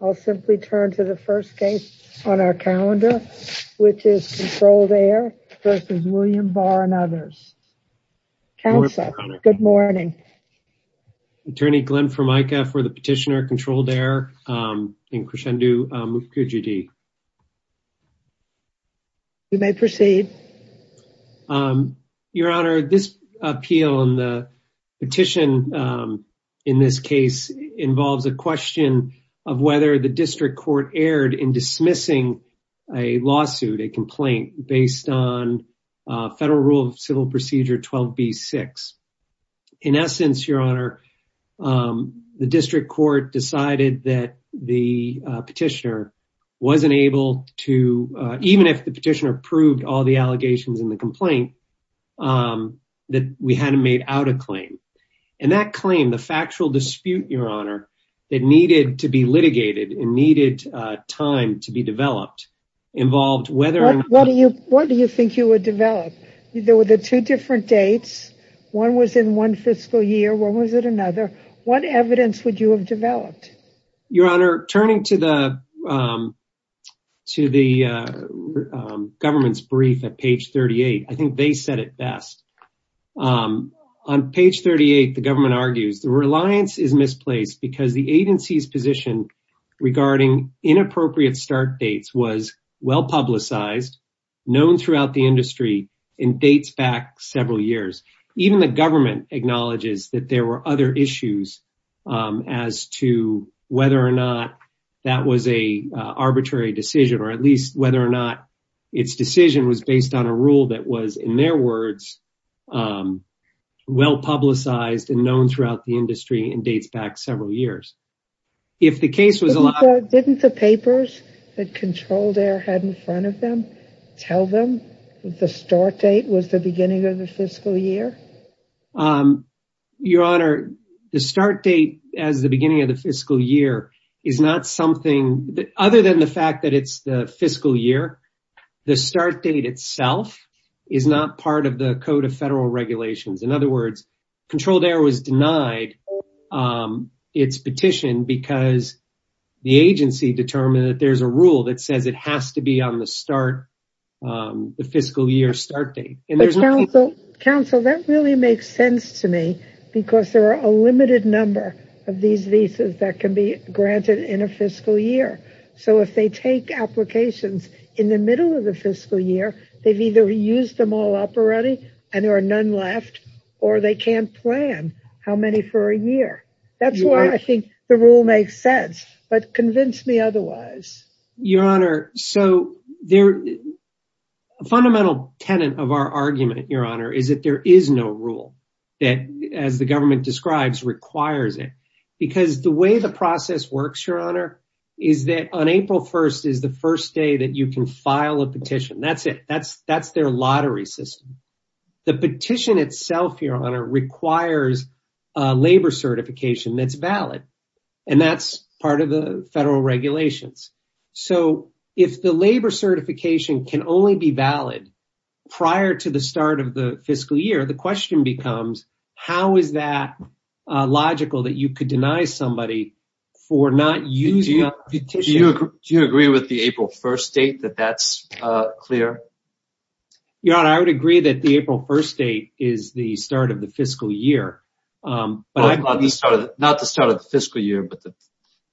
I'll simply turn to the first case on our calendar, which is Controlled Air v. William Barr and others. Counsel, good morning. Attorney Glenn Formica for the petitioner, Controlled Air, Inc. v. Mukherjee. You may proceed. Your Honor, this appeal and the petition in this case involves a question of whether the district court erred in dismissing a lawsuit, a complaint, based on Federal Rule of Civil Procedure 12b-6. In essence, Your Honor, the district court decided that the petitioner wasn't able to, even if the petitioner approved all the allegations in the complaint, that we hadn't made out a claim. And that claim, the factual dispute, Your Honor, that needed to be litigated and needed time to be developed, involved whether or not... What do you think you would develop? There were the two different dates. One was in one fiscal year, one was in another. What evidence would you have developed? Your Honor, turning to the government's brief at page 38, I think they said it best. On page 38, the government argues the reliance is misplaced because the agency's position regarding inappropriate start dates was well-publicized, known throughout the industry, and dates back several years. Even the government acknowledges that there were other issues as to whether or not that was an arbitrary decision, or at least whether or not its decision was based on a rule that was, in their words, well-publicized and known throughout the industry and dates back several years. If the case was allowed... Didn't the papers that Controlled Air had in front of them tell them the start date was the beginning of the fiscal year? Other than the fact that it's the fiscal year, the start date itself is not part of the Code of Federal Regulations. In other words, Controlled Air was denied its petition because the agency determined that there's a rule that says it has to be on the fiscal year start date. Counsel, that really makes sense to me because there are a limited number of these visas that can be granted in a fiscal year, so if they take applications in the middle of the fiscal year, they've either used them all up already and there are none left, or they can't plan how many for a year. That's why I think the rule makes sense, but convince me otherwise. Your Honor, so a fundamental tenet of our argument, Your Honor, is that there is no rule that, as the government describes, requires it because the way the process works, Your Honor, is that on April 1st is the first day that you can file a petition. That's it. That's their lottery system. The petition itself, Your Honor, requires labor certification that's valid, and that's part of the Federal Regulations. So if the labor certification can only be valid prior to the start of the fiscal year, the question becomes how is that logical that you could deny somebody for not using a petition? Do you agree with the April 1st date that that's clear? Your Honor, I would agree that the April 1st date is the start of the fiscal year. But not the start of the fiscal year, but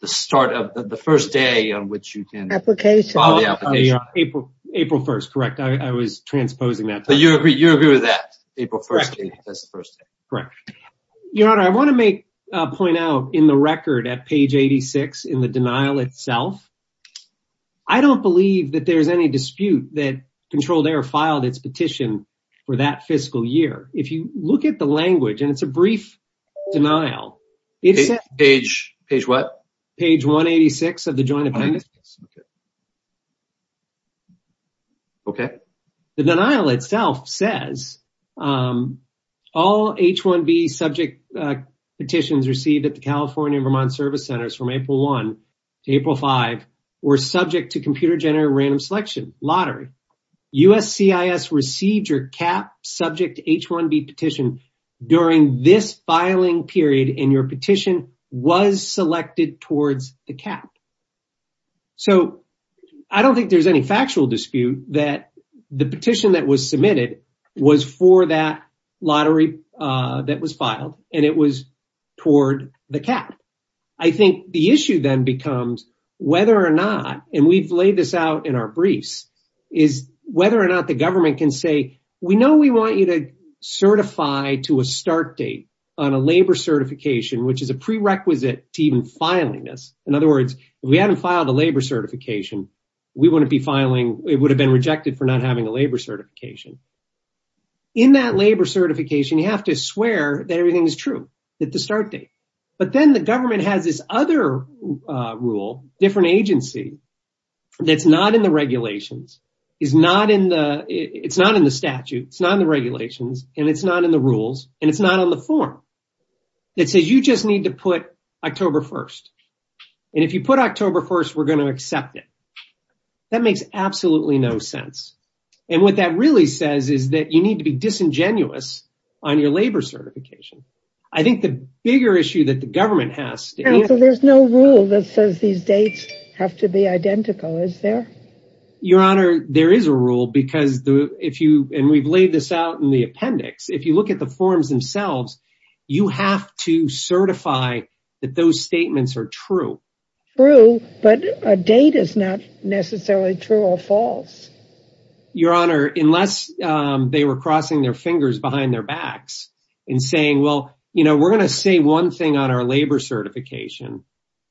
the start of the first day on which you can file the application. April 1st, correct. I was transposing that. But you agree with that. April 1st is the first day. Correct. Your Honor, I want to point out in the record at page 86 in the denial itself, I don't believe that there's any dispute that Controlled Error filed its petition for that fiscal year. If you look at the language, and it's a brief denial. Page what? Page 186 of the Joint Appendix. Okay. The denial itself says, all H-1B subject petitions received at the California and Vermont Service Centers from April subject to H-1B petition during this filing period in your petition was selected towards the cap. So, I don't think there's any factual dispute that the petition that was submitted was for that lottery that was filed, and it was toward the cap. I think the issue then becomes whether or not, and we've laid this out in our briefs, is whether or not the government can say, we know we want you to certify to a start date on a labor certification, which is a prerequisite to even filing this. In other words, if we hadn't filed a labor certification, we wouldn't be filing, it would have been rejected for not having a labor certification. In that labor certification, you have to swear that everything is true, at the start date. But then the government has this other rule, different agency, that's not in the regulations, it's not in the statute, it's not in the regulations, and it's not in the rules, and it's not on the form, that says you just need to put October 1st. And if you put October 1st, we're going to accept it. That makes absolutely no sense. And what that really says is that you need to be disingenuous on your labor certification. I think the bigger issue that the government has... There's no rule that says these dates have to be identical, is there? Your Honor, there is a rule, because if you, and we've laid this out in the appendix, if you look at the forms themselves, you have to certify that those statements are true. True, but a date is not necessarily true or false. Your Honor, unless they were crossing their fingers behind their backs and saying, well, we're going to say one thing on our labor certification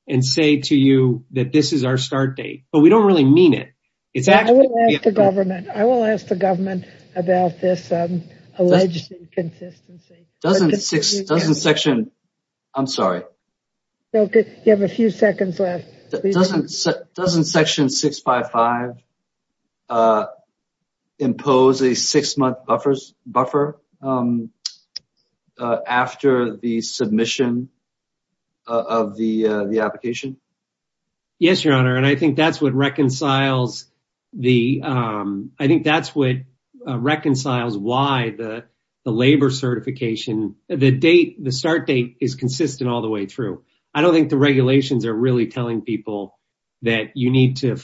and say to you that this is our start date, but we don't really mean it. I will ask the government about this alleged inconsistency. I'm sorry. You have a few seconds left. Doesn't section 655 impose a six month buffer after the submission of the application? Yes, Your Honor, and I think that's what reconciles why the labor certification... The start date is consistent all the way through. I don't think the regulations are really telling people that you need to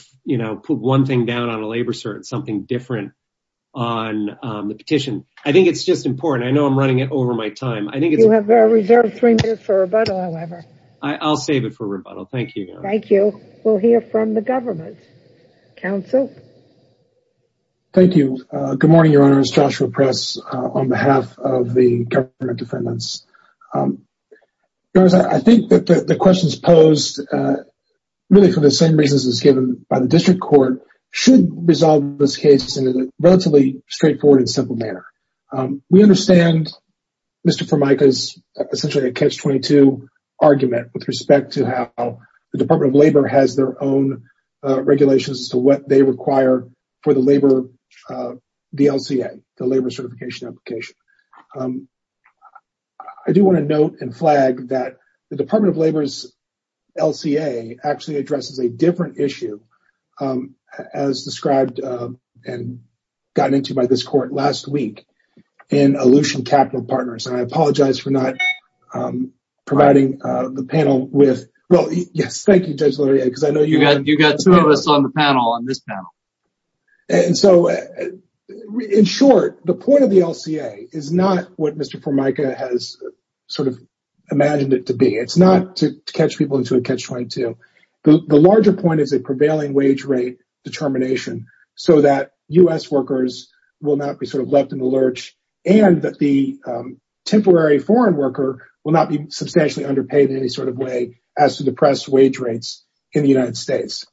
put one thing down on a labor cert, something different on the petition. I think it's just important. I know I'm running it over my time. I think it's... You have reserved three minutes for rebuttal, however. I'll save it for rebuttal. Thank you, Your Honor. Thank you. We'll hear from the government. Counsel? Thank you. Good morning, Your Honor. It's Joshua Press on behalf of the government defendants. I think that the questions posed really for the same reasons as given by the district court should resolve this case in a relatively straightforward and simple manner. We understand Mr. Formica's essentially a catch-22 argument with respect to how the Department of Labor has their own regulations as to what they require for the labor DLCA, the labor certification application. I do want to note and flag that the Department of Labor's LCA actually addresses a different issue as described and gotten into by this court last week in Aleutian Capital Partners. I apologize for not providing the panel with... Well, yes. Thank you, Judge Laurier, because I know you got... You got two of us on the panel, on this panel. And so, in short, the point of the LCA is not what Mr. Formica has sort of imagined it to be. It's not to catch people into a catch-22. The larger point is a prevailing wage rate determination so that U.S. workers will not be sort of left in the lurch and that the temporary foreign worker will not be substantially underpaid in any sort of way as to the press wage rates in the United States.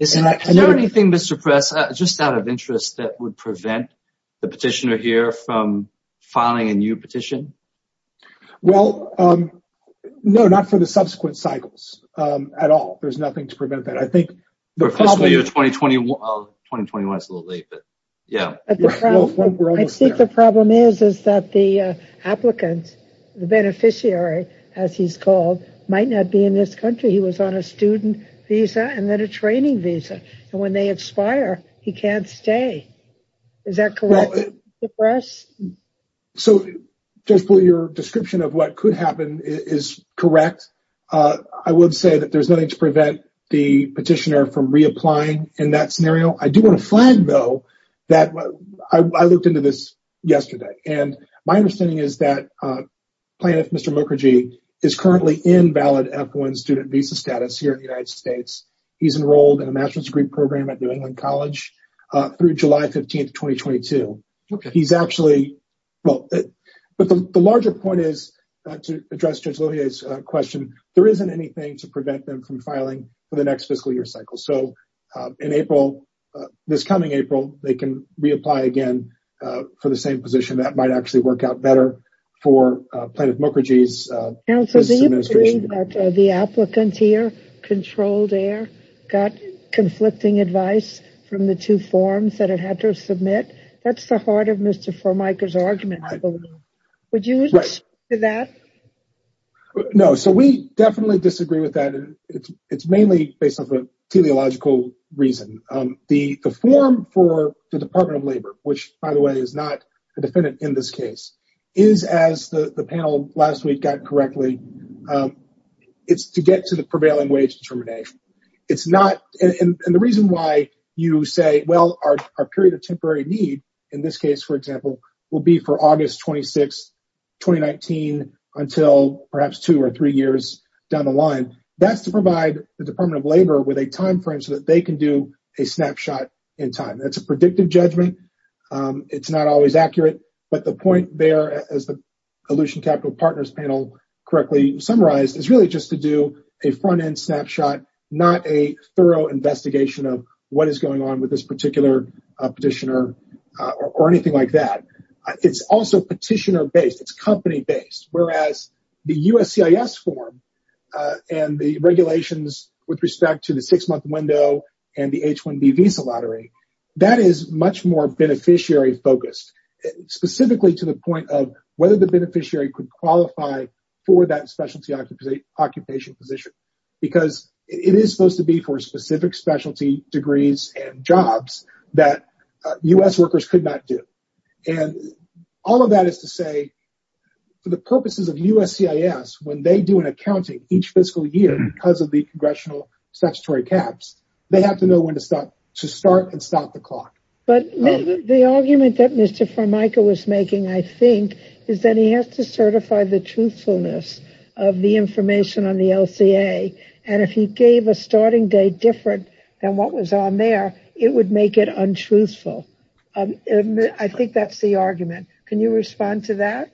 Is there anything, Mr. Press, just out of interest that would prevent the petitioner here from filing a new petition? Well, no, not for the subsequent cycles at all. There's nothing to prevent that. I think the problem... For fiscal year 2021, it's a little late, but yeah. I think the problem is that the applicant, the beneficiary, as he's called, might not be in this country. He was on a student visa and then a training visa. And when they expire, he can't stay. Is that correct, Mr. Press? So, Judge Bull, your description of what could happen is correct. I would say that there's nothing to prevent the petitioner from reapplying in that scenario. I do want to flag, though, that I looked into this yesterday. And my understanding is that plaintiff, Mr. Mukherjee, is currently in valid F-1 student visa status here in the United States. He's enrolled in a master's degree program at New England College through July 15, 2022. He's actually... But the larger point is, to address Judge Lohier's question, there isn't anything to prevent them from filing for the next fiscal year cycle. So in April, this coming April, they can reapply again for the same position. That might actually work out better for Plaintiff Mukherjee's... Counsel, do you believe that the applicant here, Controlled Air, got conflicting advice from the two forms that it had to submit? That's the heart of Mr. Formica's argument, I believe. Would you agree to that? No, so we definitely disagree with that. It's mainly based off of teleological reason. The form for the Department of Labor, which, by the way, is not a defendant in this case, is, as the panel last week got correctly, it's to get to the prevailing wage determination. And the reason why you say, well, our period of temporary need, in this case, for example, will be for August 26, 2019, until perhaps two or three years down the line, that's to provide the Department of Labor with a time frame so that they can do a snapshot in time. That's a predictive judgment. It's not always accurate, but the point there, as the Aleutian Capital Partners panel correctly summarized, is really just to do a front-end snapshot, not a thorough investigation of what is going on with this particular petitioner or anything like that. It's also petitioner-based. It's company-based, whereas the USCIS form and the regulations with respect to the six-month window and the H-1B visa lottery, that is much more beneficiary-focused, specifically to the point of whether the beneficiary could qualify for that specialty occupation position, because it is supposed to be for specific specialty degrees and jobs that U.S. workers could not do. And all of that is to say, for the purposes of USCIS, when they do an accounting each fiscal year because of the congressional statutory caps, they have to know when to start and stop the clock. But the argument that Mr. Formica was making, I think, is that he has to certify the truthfulness of the information on the LCA. And if he gave a starting date different than what was on there, it would make it untruthful. I think that's the argument. Can you respond to that?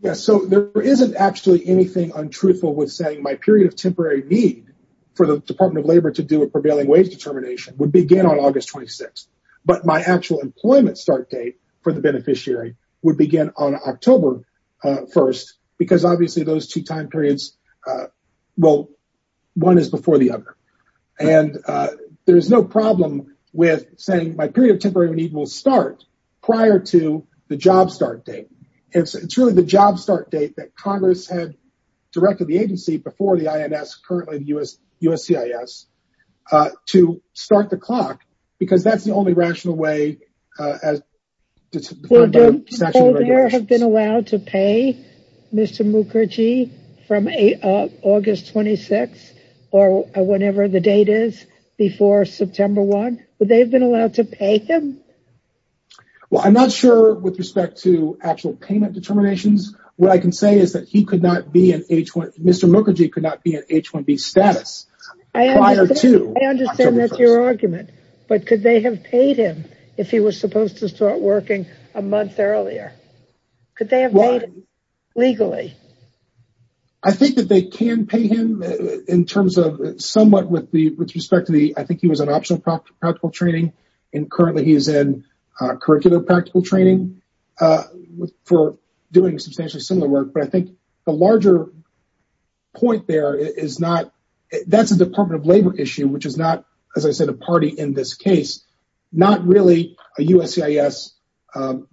Yes, so there isn't actually anything untruthful with saying my period of temporary need for the Department of Labor to do a prevailing wage determination would begin on August 26th, but my actual employment start date for the beneficiary would begin on October 1st, because obviously those two time periods, well, one is before the other. And there's no problem with saying my period of temporary need will start prior to the job start date. It's really the job start date that Congress had directed the agency before the INS, currently the USCIS, to start the clock, because that's the only rational way as to define statutory regulations. Well, don't people there have been allowed to pay Mr. Mukherjee from August 26th or whenever the date is before September 1? Would they have been allowed to pay him? Well, I'm not sure with respect to actual payment determinations. What I can say is that he could not be an H1, Mr. Mukherjee could not be an H1B status prior to- I understand that's your argument, but could they have paid him if he was supposed to start working a month earlier? Could they have made it legally? I think that they can pay him in terms of somewhat with respect to the, I think he was an optional practical training, and currently he's in curricular practical training for doing substantially similar work. But I think the larger point there is not, that's a Department of Labor issue, which is not, as I said, a party in this case, not really a USCIS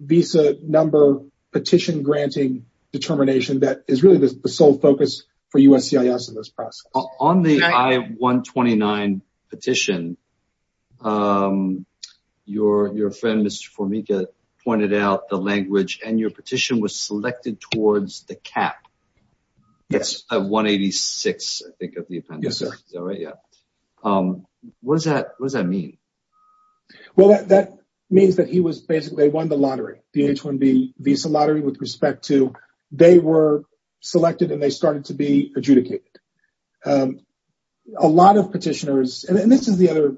visa number petition granting determination that is really the sole focus for USCIS in this process. On the I-129 petition, your friend, Mr. Formica, pointed out the language and your petition was selected towards the cap. It's a 186, I think of the appendix. Yes, sir. Is that right? Yeah. What does that mean? Well, that means that he was basically, they won the lottery, the H1B visa lottery with respect to, they were selected and they started to be adjudicated. A lot of petitioners, and this is the other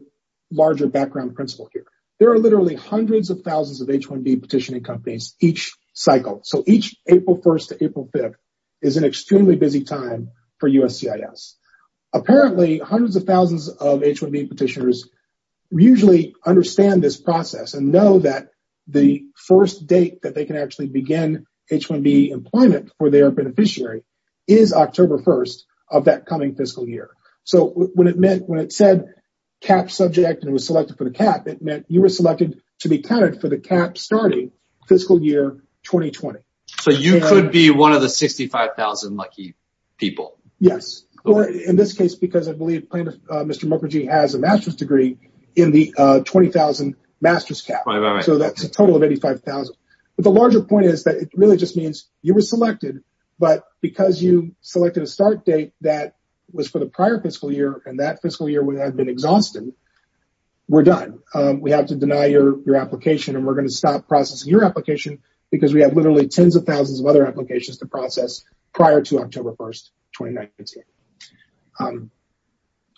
larger background principle here. There are literally hundreds of thousands of H1B petitioning companies each cycle. So each April 1st to April 5th is an extremely busy time for USCIS. Apparently hundreds of thousands of H1B petitioners usually understand this process and know that the first date that they can actually begin H1B employment for their beneficiary is October 1st of that coming fiscal year. So when it said cap subject and it was selected for the cap, it meant you were selected to be counted for the cap starting fiscal year 2020. So you could be one of the 65,000 lucky people. Yes, in this case, because I believe Mr. Mukherjee has a master's degree in the 20,000 master's cap. So that's a total of 85,000. But the larger point is that it really just means you were selected, but because you selected a start date that was for the prior fiscal year and that fiscal year would have been exhausted, we're done. We have to deny your application and we're gonna stop processing your application because we have literally tens of thousands of other applications to process prior to October 1st, 2019.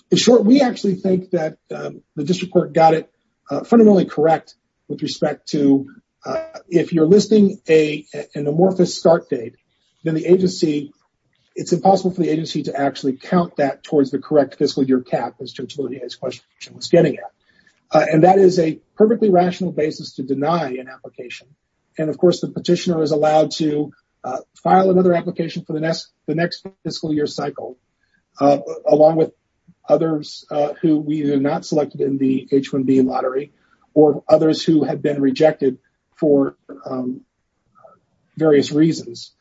In short, we actually think that the district court got it fundamentally correct with respect to if you're listing an amorphous start date, then the agency, it's impossible for the agency to actually count that towards the correct fiscal year cap as Judge Lodea's question was getting at. And that is a perfectly rational basis to deny an application. And of course the petitioner is allowed to file another application for the next fiscal year cycle, along with others who were not selected in the H-1B lottery or others who had been rejected for various reasons.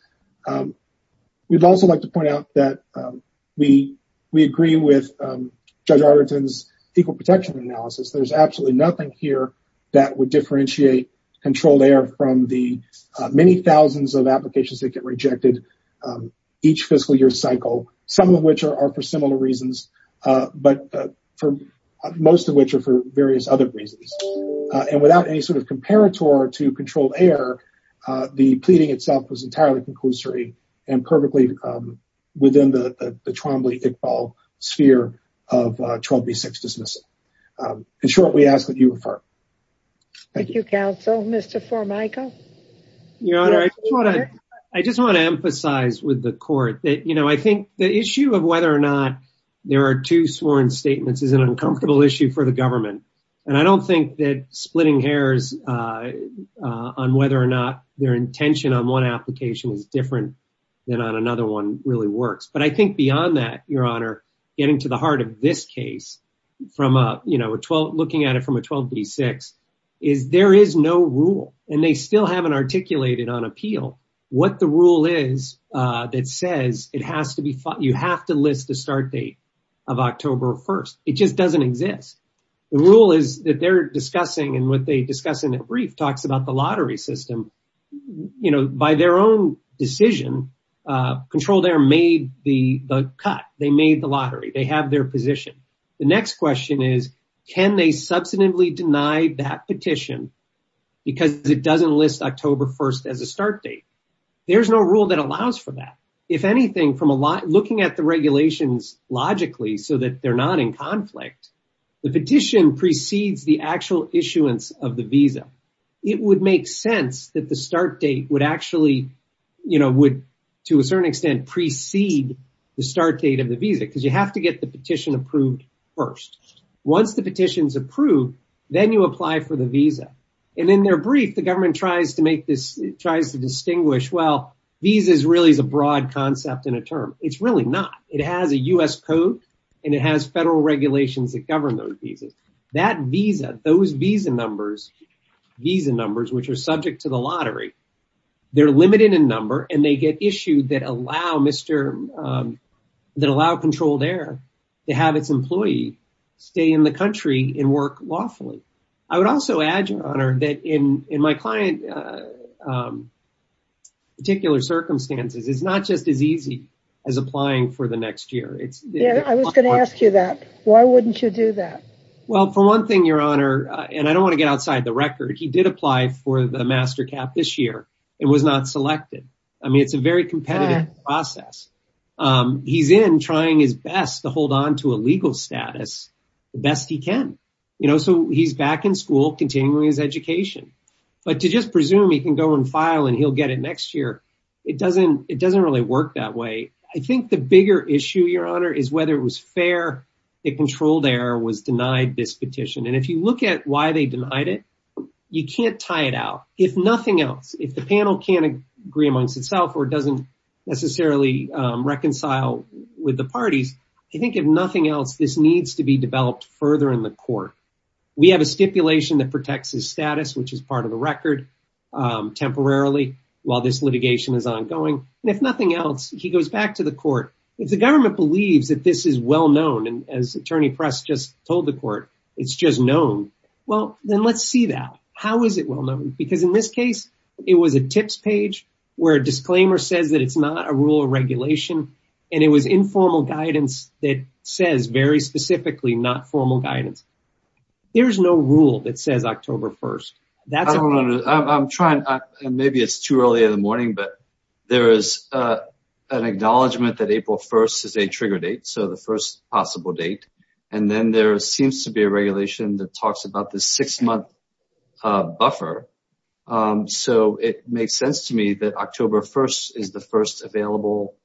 We'd also like to point out that we agree with Judge Arlington's equal protection analysis. There's absolutely nothing here that would differentiate controlled error from the many thousands of applications that get rejected each fiscal year cycle, some of which are for similar reasons, but most of which are for various other reasons. And without any sort of comparator to controlled error, the pleading itself was entirely conclusory and perfectly within the Trombley-Iqbal sphere of 12B-6 dismissal. In short, we ask that you refer. Thank you. Thank you, counsel. Mr. Formica? Your Honor, I just want to emphasize with the court that I think the issue of whether or not there are two sworn statements is an uncomfortable issue for the government. And I don't think that splitting hairs on whether or not their intention on one application is different than on another one really works. But I think beyond that, Your Honor, getting to the heart of this case, looking at it from a 12B-6 is there is no rule and they still haven't articulated on appeal what the rule is that says you have to list the start date of October 1st. It just doesn't exist. The rule is that they're discussing and what they discuss in their brief talks about the lottery system. By their own decision, Controlled Air made the cut. They made the lottery. They have their position. The next question is, can they substantively deny that petition because it doesn't list October 1st as a start date? There's no rule that allows for that. If anything, looking at the regulations logically so that they're not in conflict, the petition precedes the actual issuance of the visa. It would make sense that the start date would actually, to a certain extent, precede the start date of the visa because you have to get the petition approved first. Once the petition's approved, then you apply for the visa. And in their brief, the government tries to distinguish, well, visa really is a broad concept in a term. It's really not. It has a U.S. code and it has federal regulations that govern those visas. That visa, those visa numbers, visa numbers which are subject to the lottery, they're limited in number and they get issued that allow controlled air to have its employee stay in the country and work lawfully. I would also add, Your Honor, that in my client's particular circumstances, it's not just as easy as applying for the next year. Yeah, I was going to ask you that. Why wouldn't you do that? Well, for one thing, Your Honor, and I don't want to get outside the record, he did apply for the MasterCard this year. It was not selected. I mean, it's a very competitive process. He's in trying his best to hold on to a legal status the best he can. So he's back in school, continuing his education. But to just presume he can go and file and he'll get it next year, it doesn't really work that way. I think the bigger issue, Your Honor, is whether it was fair that controlled air was denied this petition. And if you look at why they denied it, you can't tie it out. If nothing else, if the panel can't agree amongst itself or doesn't necessarily reconcile with the parties, I think if nothing else, this needs to be developed further in the court. We have a stipulation that protects his status, which is part of the record temporarily while this litigation is ongoing. And if nothing else, he goes back to the court. If the government believes that this is well-known and as Attorney Press just told the court, it's just known, well, then let's see that. How is it well-known? Because in this case, it was a tips page where a disclaimer says that it's not a rule or regulation. And it was informal guidance that says very specifically, not formal guidance. There's no rule that says October 1st. That's- I'm trying, maybe it's too early in the morning, but there is an acknowledgement that April 1st is a trigger date. So the first possible date. And then there seems to be a regulation that talks about the six month buffer. So it makes sense to me that October 1st is the first available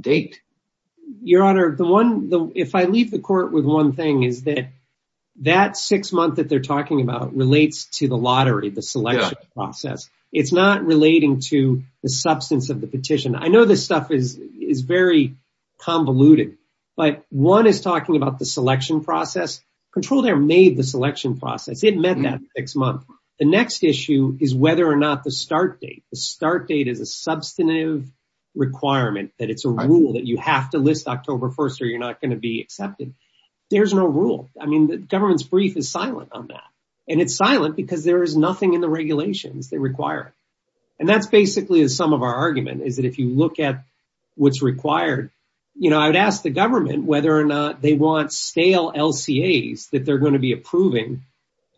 date. Your Honor, if I leave the court with one thing is that that six month that they're talking about relates to the lottery, the selection process. It's not relating to the substance of the petition. I know this stuff is very convoluted, but one is talking about the selection process, control there made the selection process. It met that six month. The next issue is whether or not the start date, the start date is a substantive requirement that it's a rule that you have to list October 1st or you're not going to be accepted. There's no rule. I mean, the government's brief is silent on that. And it's silent because there is nothing in the regulations that require it. And that's basically the sum of our argument is that if you look at what's required, I would ask the government whether or not they want stale LCAs that they're going to be approving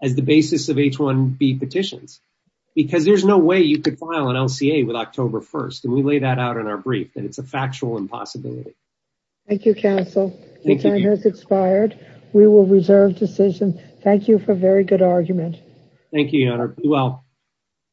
as the basis of H-1B petitions, because there's no way you could file an LCA with October 1st. And we lay that out in our brief that it's a factual impossibility. Thank you, counsel. Your time has expired. We will reserve decision. Thank you for a very good argument. Thank you, Your Honor. Be well.